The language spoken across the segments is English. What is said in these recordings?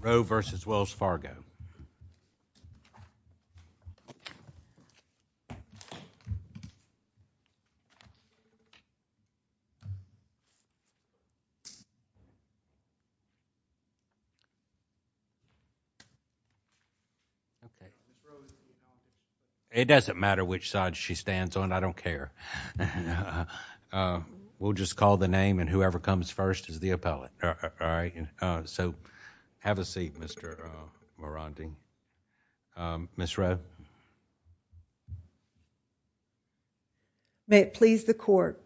Rohe v. Wells Fargo It doesn't matter which side she stands on, I don't care. We'll just call the name and whoever comes first is the appellant. So have a seat, Mr. Morandi. Ms. Rohe. May it please the Court.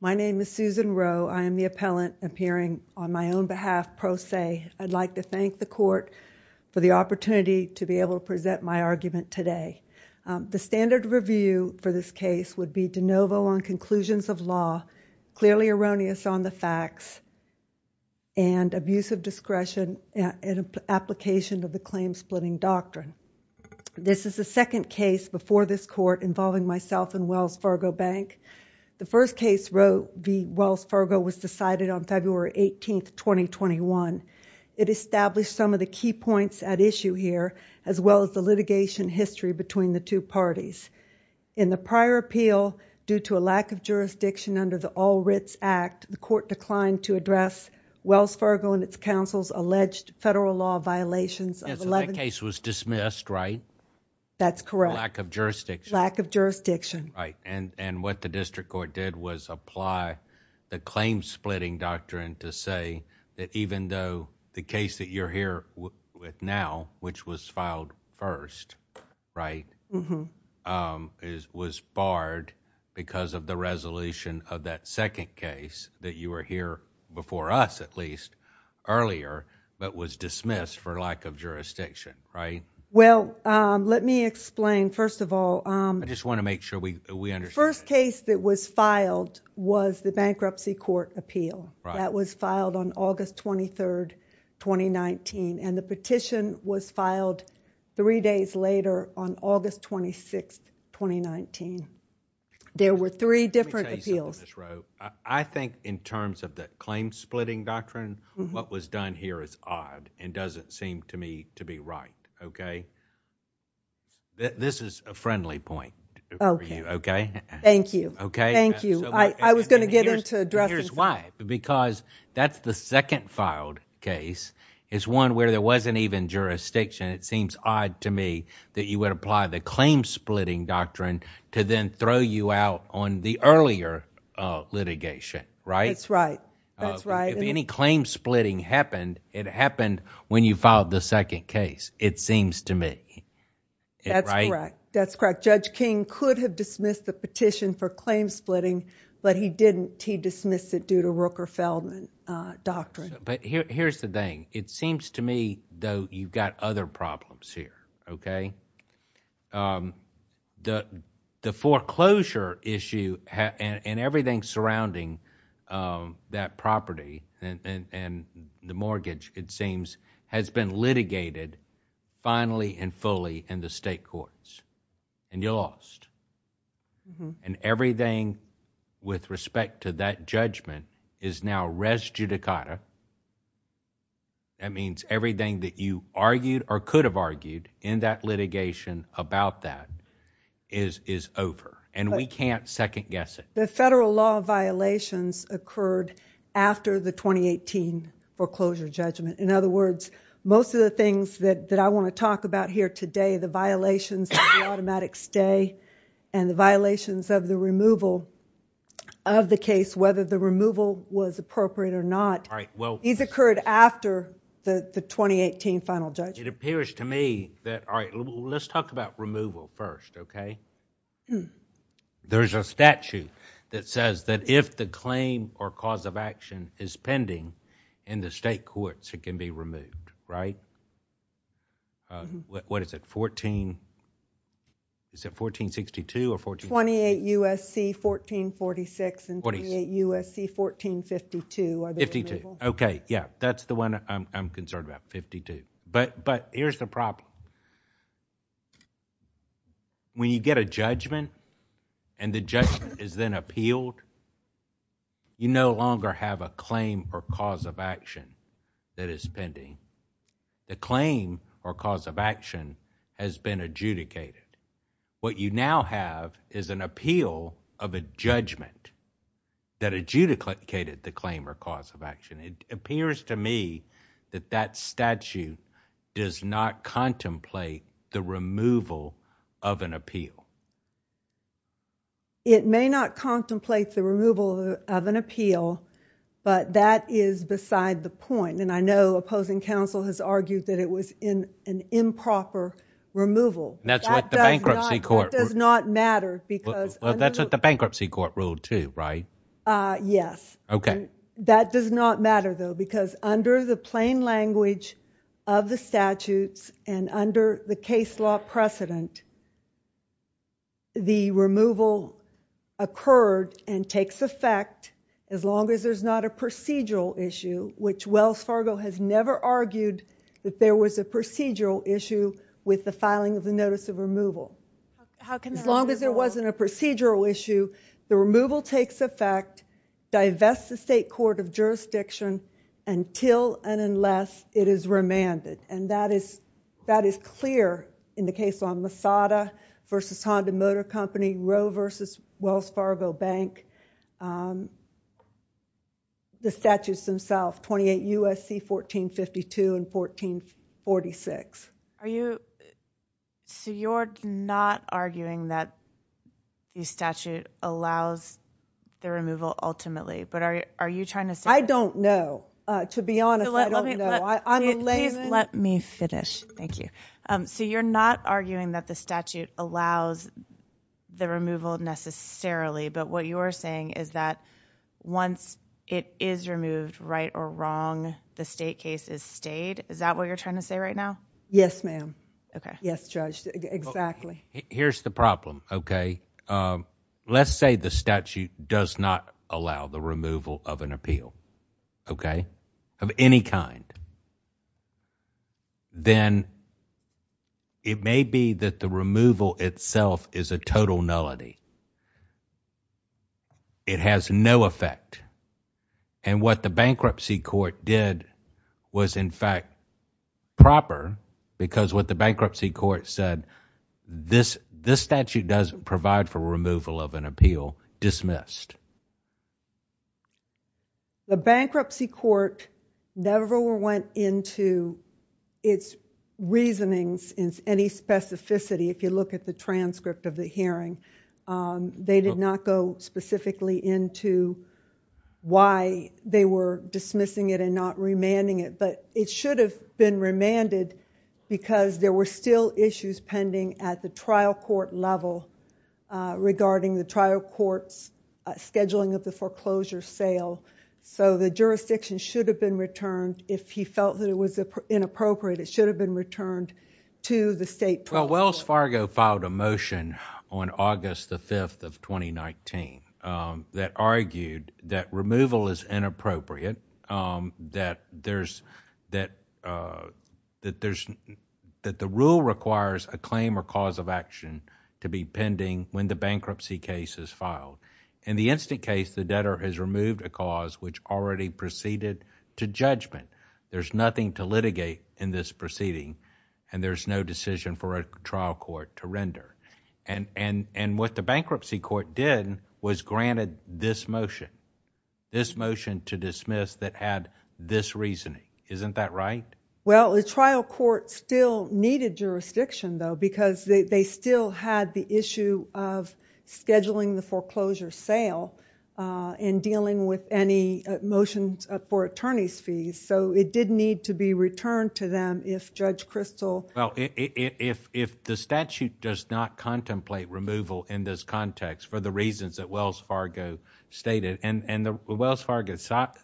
My name is Susan Rohe. I am the appellant appearing on my own behalf pro se. I'd like to thank the Court for the opportunity to be able to present my argument today. The standard review for this case would be de novo on conclusions of law, clearly erroneous on the facts, and abuse of discretion in application of the claim-splitting doctrine. This is the second case before this Court involving myself and Wells Fargo Bank. The first case, Rohe v. Wells Fargo, was decided on February 18, 2021. It established some of the key points at issue here, as well as the litigation history between the two parties. In the prior appeal, due to a lack of jurisdiction under the All Writs Act, the Court declined to address Wells Fargo and its counsel's alleged federal law violations of 11- So that case was dismissed, right? That's correct. Lack of jurisdiction. Lack of jurisdiction. Right. And what the District Court did was apply the claim-splitting doctrine to say that even though the case that you're here with now, which was filed first, right, was barred because of the resolution of that second case that you were here before us, at least, earlier, but was dismissed for lack of jurisdiction, right? Well, let me explain. First of all- I just want to make sure we understand. First case that was filed was the bankruptcy court appeal. That was filed on August 23, 2019, and the petition was filed three days later on August 26, 2019. There were three different appeals. Let me tell you something, Ms. Roe. I think in terms of the claim-splitting doctrine, what was done here is odd and doesn't seem to me to be right, okay? This is a friendly point for you, okay? Thank you. Okay? Thank you. I was going to get into addressing- Here's why. Because that's the second filed case is one where there wasn't even jurisdiction. It seems odd to me that you would apply the claim-splitting doctrine to then throw you out on the earlier litigation, right? That's right. That's right. If any claim-splitting happened, it happened when you filed the second case, it seems to me, right? That's correct. That's correct. Judge King could have dismissed the petition for claim-splitting, but he didn't. He dismissed it due to Rooker-Feldman doctrine. Here's the thing. It seems to me, though, you've got other problems here, okay? The foreclosure issue and everything surrounding that property and the mortgage, it seems, has been litigated finally and fully in the state courts, and you lost. And everything with respect to that judgment is now res judicata, that means everything that you argued or could have argued in that litigation about that is over, and we can't second guess it. The federal law violations occurred after the 2018 foreclosure judgment. In other words, most of the things that I want to talk about here today, the violations of the automatic stay and the violations of the removal of the case, whether the removal was appropriate or not, these occurred after the 2018 final judgment. It appears to me that... all right, let's talk about removal first, okay? There's a statute that says that if the claim or cause of action is pending in the state courts, it can be removed, right? What is it? Fourteen... is it 1462 or... 28 U.S.C. 1446 and 28 U.S.C. 1452 are the... Fifty-two. Okay, yeah. That's the one I'm concerned about, 52. But here's the problem. When you get a judgment and the judgment is then appealed, you no longer have a claim or cause of action that is pending. The claim or cause of action has been adjudicated. What you now have is an appeal of a judgment that adjudicated the claim or cause of action. It appears to me that that statute does not contemplate the removal of an appeal. It may not contemplate the removal of an appeal, but that is beside the point. And I know opposing counsel has argued that it was an improper removal. That does not matter because... That's what the bankruptcy court ruled, too, right? Yes. That does not matter, though, because under the plain language of the statutes and under the case law precedent, the removal occurred and takes effect as long as there's not a procedural issue, which Wells Fargo has never argued that there was a procedural issue with the filing of the notice of removal. How can that... As long as there wasn't a procedural issue, the removal takes effect, divests the state court of jurisdiction until and unless it is remanded. And that is clear in the case on Masada v. Honda Motor Company, Roe v. Wells Fargo Bank, the statutes themselves, 28 U.S.C. 1452 and 1446. So you're not arguing that the statute allows the removal ultimately, but are you trying to say... I don't know. To be honest, I don't know. I'm a layman. I'm a layman. Please let me finish. Thank you. So you're not arguing that the statute allows the removal necessarily, but what you are saying is that once it is removed, right or wrong, the state case is stayed? Is that what you're trying to say right now? Yes, ma'am. Okay. Yes, Judge. Exactly. Here's the problem. Okay? If, let's say the statute does not allow the removal of an appeal, okay, of any kind, then it may be that the removal itself is a total nullity. It has no effect. And what the bankruptcy court did was, in fact, proper, because what the bankruptcy court said, this statute doesn't provide for removal of an appeal, dismissed. The bankruptcy court never went into its reasonings in any specificity. If you look at the transcript of the hearing, they did not go specifically into why they were dismissing it and not remanding it, but it should have been remanded because there were still issues pending at the trial court level regarding the trial court's scheduling of the foreclosure sale. The jurisdiction should have been returned if he felt that it was inappropriate, it should have been returned to the state... Well, Wells Fargo filed a motion on August the 5th of 2019 that argued that removal is Rule requires a claim or cause of action to be pending when the bankruptcy case is filed. In the instant case, the debtor has removed a cause which already proceeded to judgment. There's nothing to litigate in this proceeding and there's no decision for a trial court to render. And what the bankruptcy court did was granted this motion, this motion to dismiss that had this reasoning. Isn't that right? Well, the trial court still needed jurisdiction, though, because they still had the issue of scheduling the foreclosure sale and dealing with any motions for attorney's fees, so it did need to be returned to them if Judge Kristol... Well, if the statute does not contemplate removal in this context for the reasons that Well,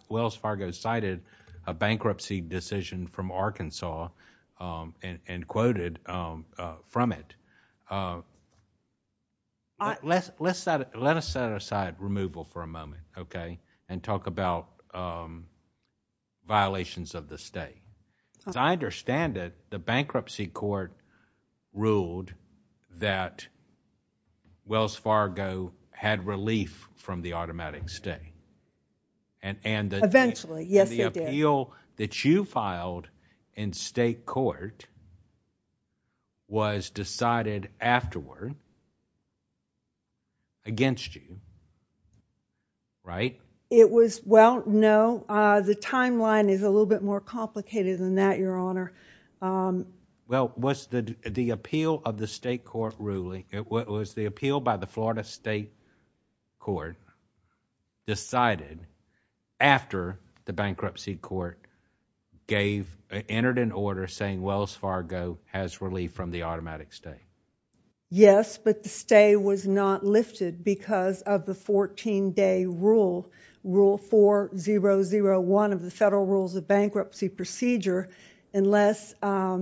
Wells Fargo cited a bankruptcy decision from Arkansas and quoted from it. Let us set aside removal for a moment, okay, and talk about violations of the state. As I understand it, the bankruptcy court ruled that Wells Fargo had relief from the automatic stay. Eventually. Yes, it did. And the appeal that you filed in state court was decided afterward against you, right? It was... well, no. The timeline is a little bit more complicated than that, Your Honor. Well, was the appeal of the state court ruling... was the appeal by the Florida State Court decided after the bankruptcy court gave... entered an order saying Wells Fargo has relief from the automatic stay? Yes, but the stay was not lifted because of the 14-day rule, Rule 4001 of the Federal Rules of Bankruptcy Procedure, unless a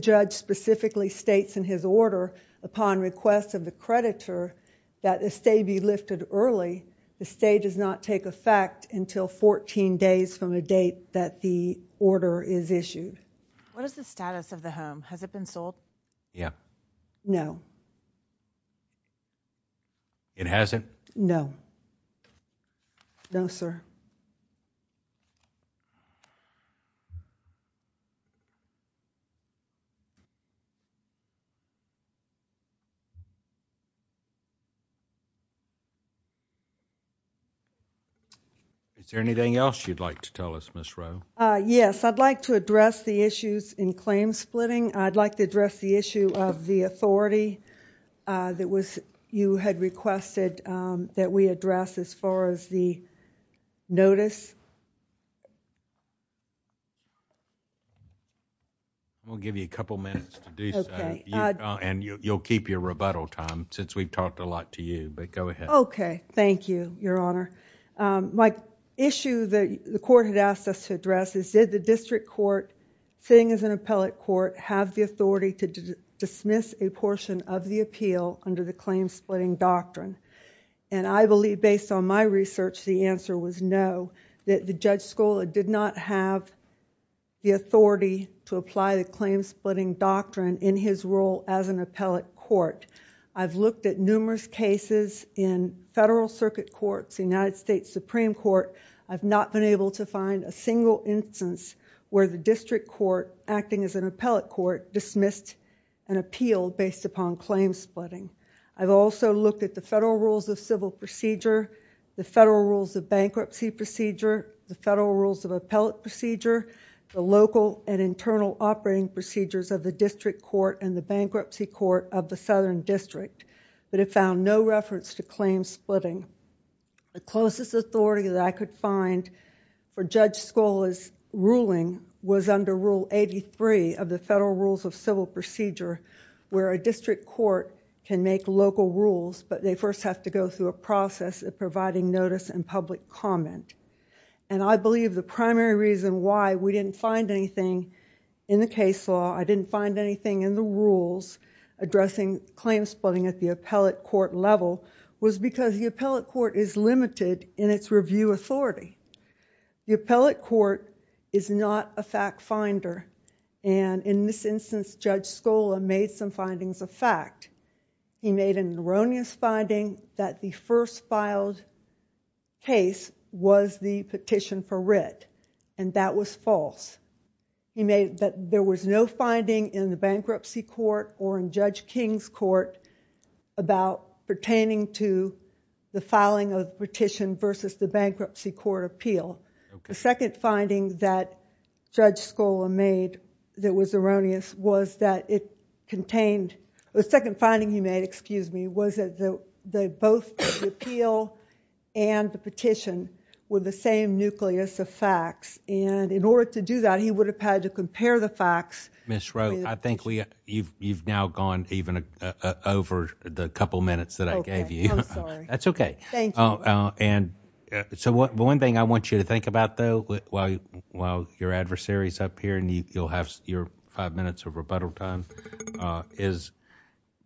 judge specifically states in his order, upon request of the creditor, that a stay be lifted early. The stay does not take effect until 14 days from the date that the order is issued. What is the status of the home? Has it been sold? Yeah. No. It hasn't? No. No, sir. Is there anything else you'd like to tell us, Ms. Rowe? Yes. I'd like to address the issues in claim splitting. I'd like to address the issue of the authority that you had requested that we address as far as the notice... We'll give you a couple minutes to do so, and you'll keep your rebuttal time since we've talked a lot to you, but go ahead. Okay. Thank you, Your Honor. My issue that the court had asked us to address is did the district court, sitting as an appellate court, have the authority to dismiss a portion of the appeal under the claim splitting doctrine? I believe, based on my research, the answer was no, that the judge did not have the authority to apply the claim splitting doctrine in his role as an appellate court. I've looked at numerous cases in federal circuit courts, the United States Supreme Court. I've not been able to find a single instance where the district court, acting as an appellate court, dismissed an appeal based upon claim splitting. I've also looked at the Federal Rules of Civil Procedure, the Federal Rules of Bankruptcy Procedure, the Federal Rules of Appellate Procedure, the local and internal operating procedures of the district court and the bankruptcy court of the southern district, but have found no reference to claim splitting. The closest authority that I could find for Judge Scola's ruling was under Rule 83 of the Federal Rules of Civil Procedure, where a district court can make local rules, but they first have to go through a process of providing notice and public comment. I believe the primary reason why we didn't find anything in the case law, I didn't find anything in the rules addressing claim splitting at the appellate court level, was because the appellate court is limited in its review authority. The appellate court is not a fact finder, and in this instance, Judge Scola made some findings of fact. He made an erroneous finding that the first filed case was the petition for writ, and that was false. He made that there was no finding in the bankruptcy court or in Judge King's court about pertaining to the filing of the petition versus the bankruptcy court appeal. The second finding that Judge Scola made that was erroneous was that it contained... the second finding he made, excuse me, was that both the appeal and the petition were the same nucleus of facts. In order to do that, he would have had to compare the facts... Thank you. I'm sorry. That's okay. Thank you. One thing I want you to think about, though, while your adversary is up here and you'll have your five minutes of rebuttal time, is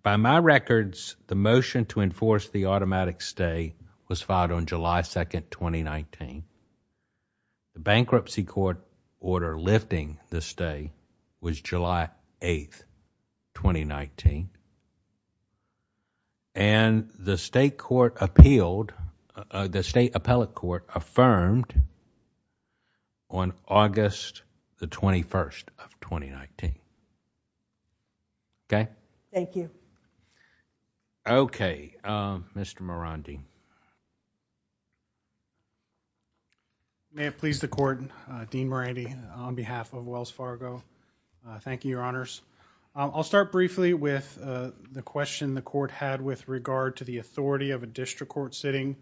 by my records, the motion to enforce the automatic stay was filed on July 2nd, 2019. The bankruptcy court order lifting the stay was July 8th, 2019. The state court appealed... the state appellate court affirmed on August the 21st of 2019. Okay? Thank you. Okay. Mr. Marandi. May it please the Court, Dean Marandi, on behalf of Wells Fargo, thank you, Your Honors. I'll start briefly with the question the Court had with regard to the authority of a district court sitting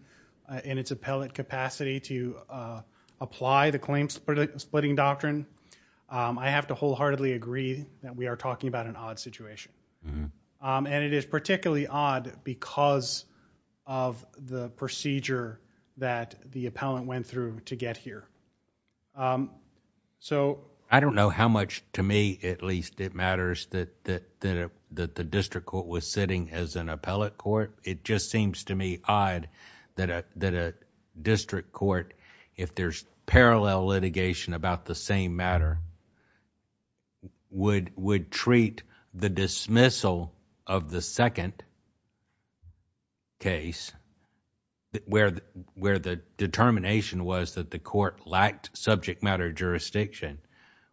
in its appellate capacity to apply the claim-splitting doctrine. I have to wholeheartedly agree that we are talking about an odd situation. It is particularly odd because of the procedure that the appellant went through to get here. I don't know how much, to me at least, it matters that the district court was sitting as an appellate court. It just seems to me odd that a district court, if there's parallel litigation about the same matter, would treat the dismissal of the second case where the determination was that the court lacked subject matter jurisdiction,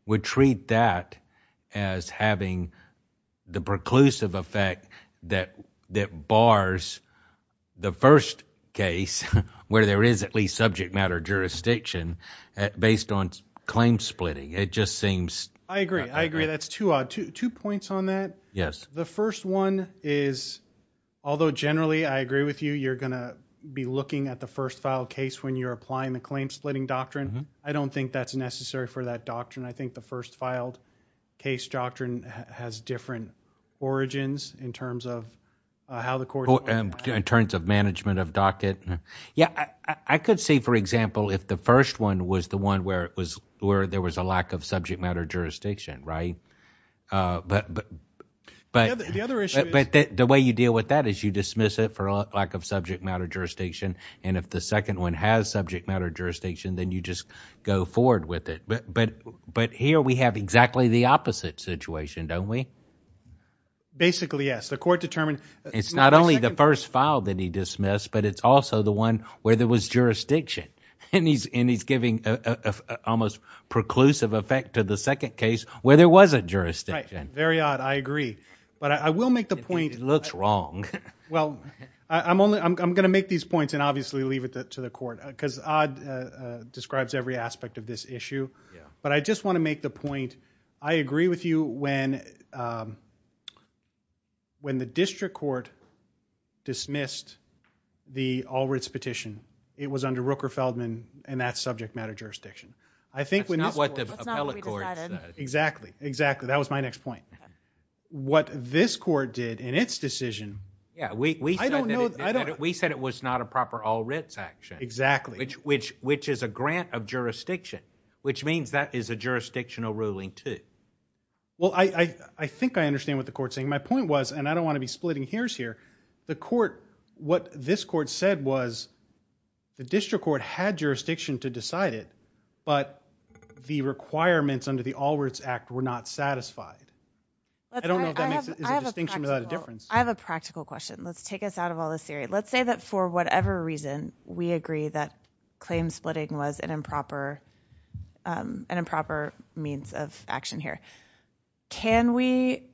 would treat that as having the preclusive effect that bars the first case where there is at least subject matter jurisdiction based on claim-splitting. It just seems... I agree. I agree. That's too odd. Two points on that. Yes. The first one is, although generally I agree with you, you're going to be looking at the first filed case when you're applying the claim-splitting doctrine. I don't think that's necessary for that doctrine. I think the first filed case doctrine has different origins in terms of how the court... In terms of management of docket? Yes. I could see, for example, if the first one was the one where there was a lack of subject matter jurisdiction, right? The other issue is... The way you deal with that is you dismiss it for lack of subject matter jurisdiction and if the second one has subject matter jurisdiction, then you just go forward with it. But here we have exactly the opposite situation, don't we? Basically yes. The court determined... It's not only the first file that he dismissed, but it's also the one where there was jurisdiction and he's giving almost preclusive effect to the second case where there was a jurisdiction. Very odd. I agree. But I will make the point... It looks wrong. Well, I'm going to make these points and obviously leave it to the court because odd describes every aspect of this issue. But I just want to make the point, I agree with you when the district court dismissed the Allred's petition, it was under Rooker-Feldman and that's subject matter jurisdiction. I think when this court... That's not what the appellate court said. Exactly. Exactly. That was my next point. What this court did in its decision... Yeah. We said it was not a proper Allred's action... Exactly.... which is a grant of jurisdiction, which means that is a jurisdictional ruling too. Well, I think I understand what the court's saying. My point was, and I don't want to be splitting hairs here, the court... what this court said was the district court had jurisdiction to decide it, but the requirements under the I don't know if that makes a distinction without a difference. I have a practical question. Let's take us out of all this theory. Let's say that for whatever reason, we agree that claim splitting was an improper means of action here. Can we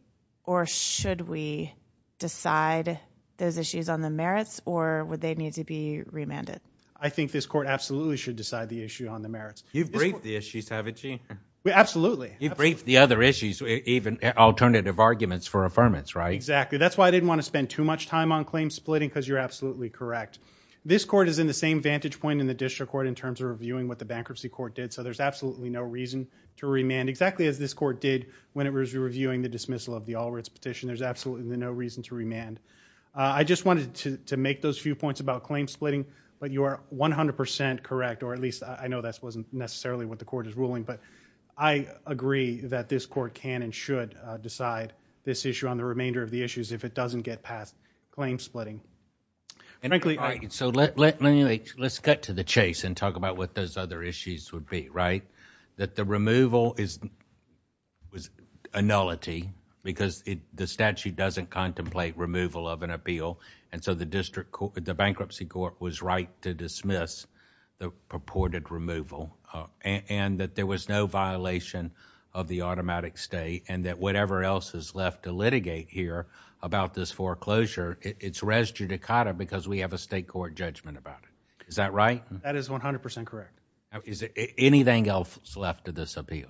or should we decide those issues on the merits or would they need to be remanded? I think this court absolutely should decide the issue on the merits. You've briefed the issues, haven't you? Absolutely. You've briefed the other issues, even alternative arguments for affirmance, right? Exactly. That's why I didn't want to spend too much time on claim splitting because you're absolutely correct. This court is in the same vantage point in the district court in terms of reviewing what the bankruptcy court did, so there's absolutely no reason to remand exactly as this court did when it was reviewing the dismissal of the Allred's petition. There's absolutely no reason to remand. I just wanted to make those few points about claim splitting, but you are 100% correct, or at least I know that wasn't necessarily what the court is ruling, but I agree that this court can and should decide this issue on the remainder of the issues if it doesn't get past claim splitting. Let's cut to the chase and talk about what those other issues would be, right? The removal is a nullity because the statute doesn't contemplate removal of an appeal, and so the bankruptcy court was right to dismiss the purported removal, and that there was no violation of the automatic stay, and that whatever else is left to litigate here about this foreclosure, it's res judicata because we have a state court judgment about it. Is that right? That is 100% correct. Is anything else left to this appeal?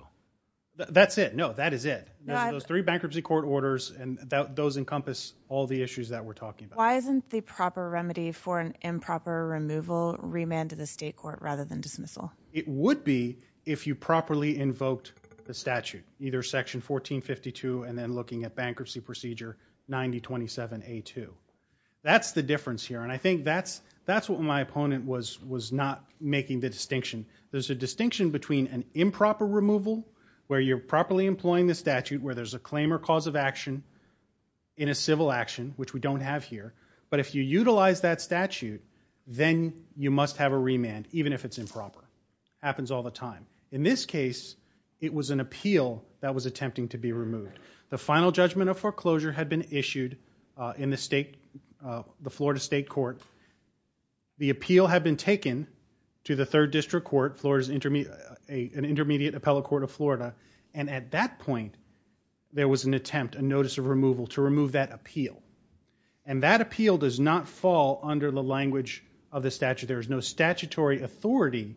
That's it. No, that is it. Those three bankruptcy court orders, and those encompass all the issues that we're talking about. Why isn't the proper remedy for an improper removal remanded to the state court rather than dismissal? It would be if you properly invoked the statute, either Section 1452 and then looking at Bankruptcy Procedure 9027A2. That's the difference here, and I think that's what my opponent was not making the distinction. There's a distinction between an improper removal where you're properly employing the statute where there's a claim or cause of action in a civil action, which we don't have here, but if you utilize that statute, then you must have a remand, even if it's improper. Happens all the time. In this case, it was an appeal that was attempting to be removed. The final judgment of foreclosure had been issued in the Florida State Court. The appeal had been taken to the Third District Court, an intermediate appellate court of Florida, and at that point, there was an attempt, a notice of removal to remove that appeal. And that appeal does not fall under the language of the statute. There is no statutory authority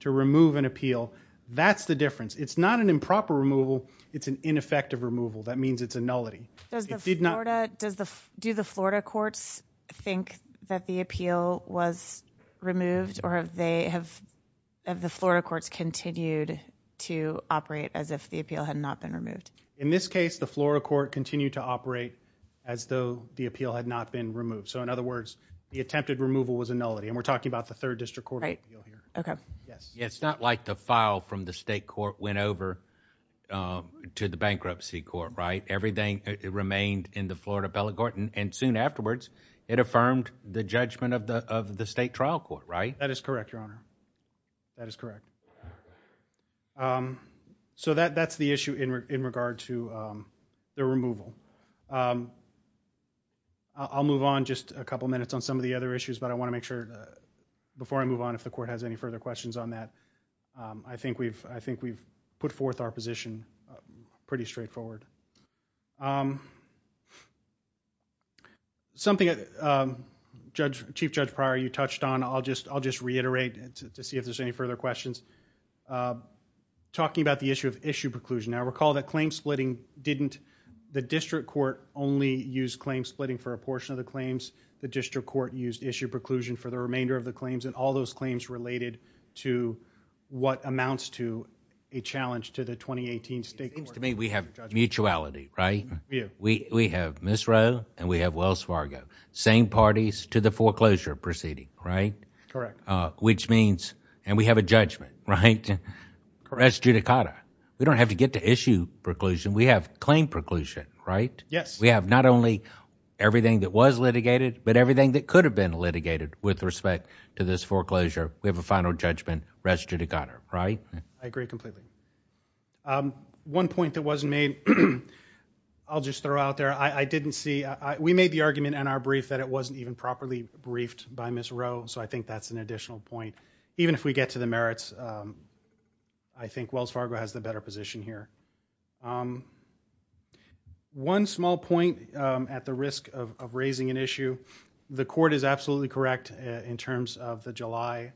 to remove an appeal. That's the difference. It's not an improper removal. It's an ineffective removal. That means it's a nullity. Do the Florida courts think that the appeal was removed, or have the Florida courts continued to operate as if the appeal had not been removed? In this case, the Florida court continued to operate as though the appeal had not been removed. So in other words, the attempted removal was a nullity, and we're talking about the Third District Court. Right. Okay. Yes. It's not like the file from the State Court went over to the Bankruptcy Court, right? Everything remained in the Florida appellate court, and soon afterwards, it affirmed the judgment of the State Trial Court, right? That is correct, Your Honor. That is correct. So that's the issue in regard to the removal. I'll move on just a couple minutes on some of the other issues, but I want to make sure, before I move on, if the court has any further questions on that, I think we've put forth our position pretty straightforward. Something that Chief Judge Pryor, you touched on, I'll just reiterate to see if there's any further questions. Talking about the issue of issue preclusion, now recall that claim splitting didn't, the District Court only used claim splitting for a portion of the claims. The District Court used issue preclusion for the remainder of the claims, and all those It seems to me we have mutuality, right? We have Ms. Rowe and we have Wells Fargo, same parties to the foreclosure proceeding, right? Correct. Which means, and we have a judgment, right? Correct. Res judicata. We don't have to get to issue preclusion. We have claim preclusion, right? Yes. We have not only everything that was litigated, but everything that could have been litigated with respect to this foreclosure, we have a final judgment, res judicata, right? I agree completely. One point that wasn't made, I'll just throw out there, I didn't see, we made the argument in our brief that it wasn't even properly briefed by Ms. Rowe, so I think that's an additional point. Even if we get to the merits, I think Wells Fargo has the better position here. One small point at the risk of raising an issue, the court is absolutely correct in terms of the July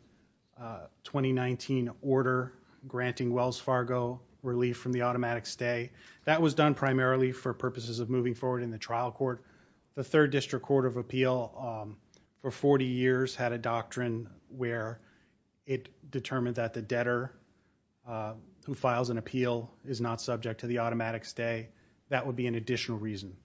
2019 order granting Wells Fargo relief from the automatic stay. That was done primarily for purposes of moving forward in the trial court. The Third District Court of Appeal, for 40 years, had a doctrine where it determined that the debtor who files an appeal is not subject to the automatic stay. That would be an additional reason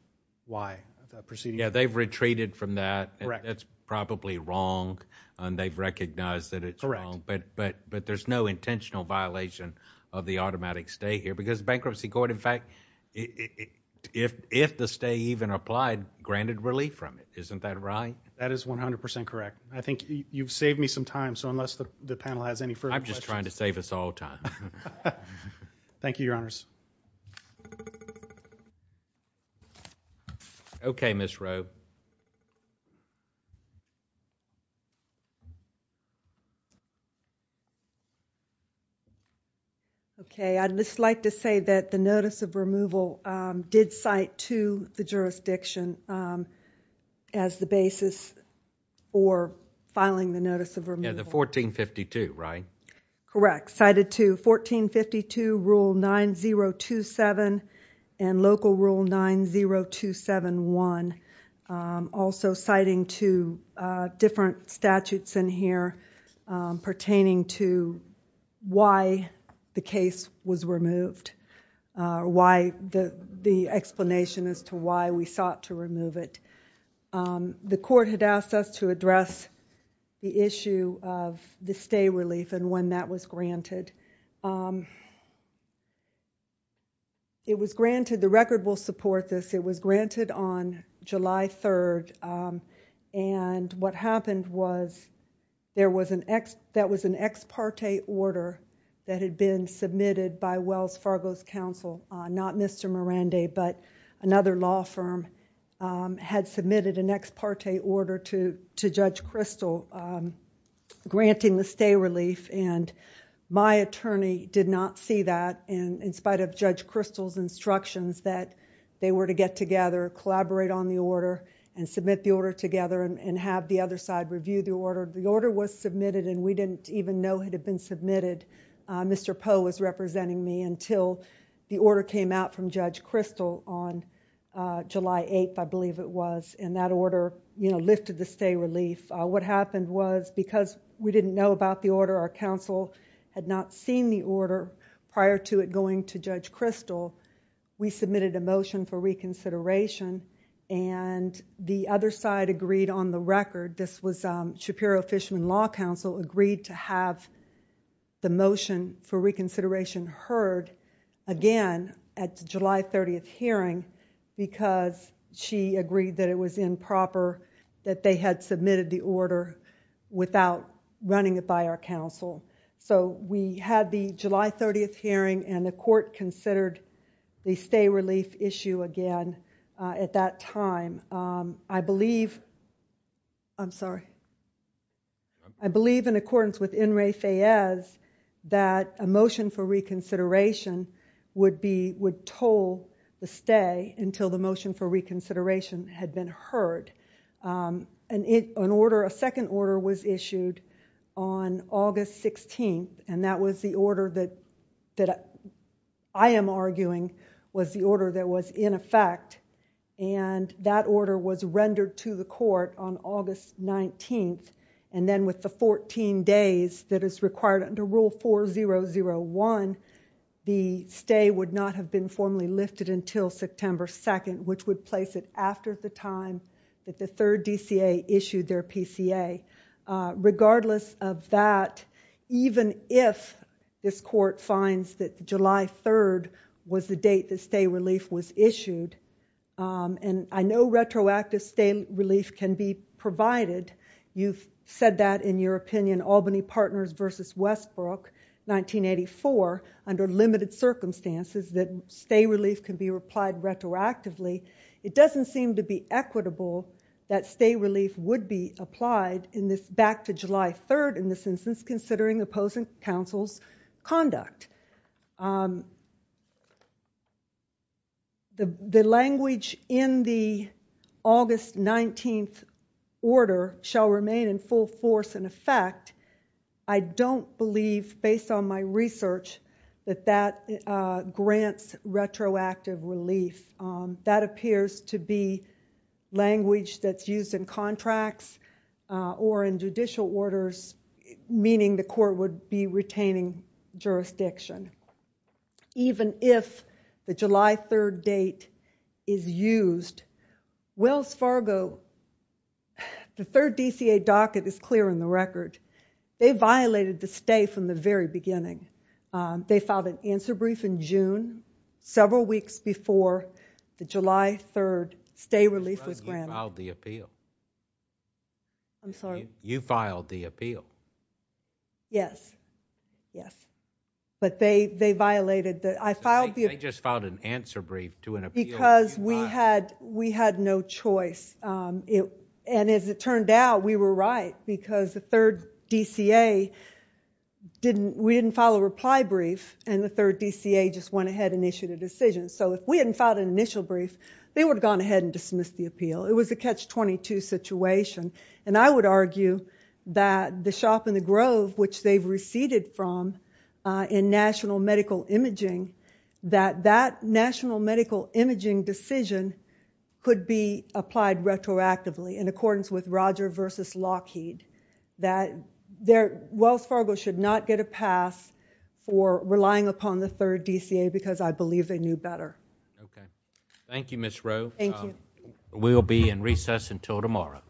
why the proceeding... Yeah, they've retreated from that. Correct. That's probably wrong, and they've recognized that it's wrong, but there's no intentional violation of the automatic stay here, because the bankruptcy court, in fact, if the stay even applied, granted relief from it. Isn't that right? That is 100% correct. I think you've saved me some time, so unless the panel has any further questions... I'm just trying to save us all time. Thank you, Your Honors. Okay, Ms. Rowe. Okay, I'd just like to say that the notice of removal did cite to the jurisdiction as the basis for filing the notice of removal. Yeah, the 1452, right? Correct. Cited to 1452 Rule 9027 and Local Rule 90271. Also citing two different statutes in here pertaining to why the case was removed, the explanation as to why we sought to remove it. The court had asked us to address the issue of the stay relief and when that was granted. It was granted, the record will support this, it was granted on July 3rd, and what happened was that was an ex parte order that had been submitted by Wells Fargo's counsel, not Mr. Poe, but another law firm, had submitted an ex parte order to Judge Crystal granting the stay relief and my attorney did not see that in spite of Judge Crystal's instructions that they were to get together, collaborate on the order, and submit the order together and have the other side review the order. The order was submitted and we didn't even know it had been submitted, Mr. Poe was representing me until the order came out from Judge Crystal on July 8th, I believe it was, and that order lifted the stay relief. What happened was because we didn't know about the order, our counsel had not seen the order prior to it going to Judge Crystal, we submitted a motion for reconsideration and the other side agreed on the record, this was Shapiro Fisherman Law Counsel, agreed to have the order heard again at the July 30th hearing because she agreed that it was improper that they had submitted the order without running it by our counsel. So we had the July 30th hearing and the court considered the stay relief issue again at that time. I believe in accordance with In re Faiz that a motion for reconsideration would toll the stay until the motion for reconsideration had been heard. A second order was issued on August 16th and that was the order that I am arguing was the order was rendered to the court on August 19th and then with the 14 days that is required under Rule 4001, the stay would not have been formally lifted until September 2nd, which would place it after the time that the third DCA issued their PCA. Regardless of that, even if this court finds that July 3rd was the date the stay relief was issued and I know retroactive stay relief can be provided, you have said that in your opinion Albany Partners v. Westbrook, 1984, under limited circumstances that stay relief can be applied retroactively, it doesn't seem to be equitable that stay relief would be applied back to July 3rd in this instance considering opposing counsel's conduct. The language in the August 19th order shall remain in full force and effect. I don't believe, based on my research, that that grants retroactive relief. That appears to be language that is used in contracts or in judicial orders, meaning the court would be retaining jurisdiction. Even if the July 3rd date is used, Wells Fargo, the third DCA docket is clear in the record. They violated the stay from the very beginning. They filed an answer brief in June, several weeks before the July 3rd stay relief was granted. You filed the appeal. Yes. They just filed an answer brief to an appeal. Because we had no choice. As it turned out, we were right because the third DCA, we didn't file a reply brief and the third DCA just went ahead and issued a decision. If we hadn't filed an initial brief, they would have gone ahead and dismissed the appeal. It was a catch-22 situation. I would argue that the shop in the Grove, which they've receded from in national medical imaging, that that national medical imaging decision could be applied retroactively in accordance with Roger v. Lockheed. Wells Fargo should not get a pass for relying upon the third DCA because I believe they knew better. Thank you, Ms. Rowe. Thank you. We'll be in recess until tomorrow.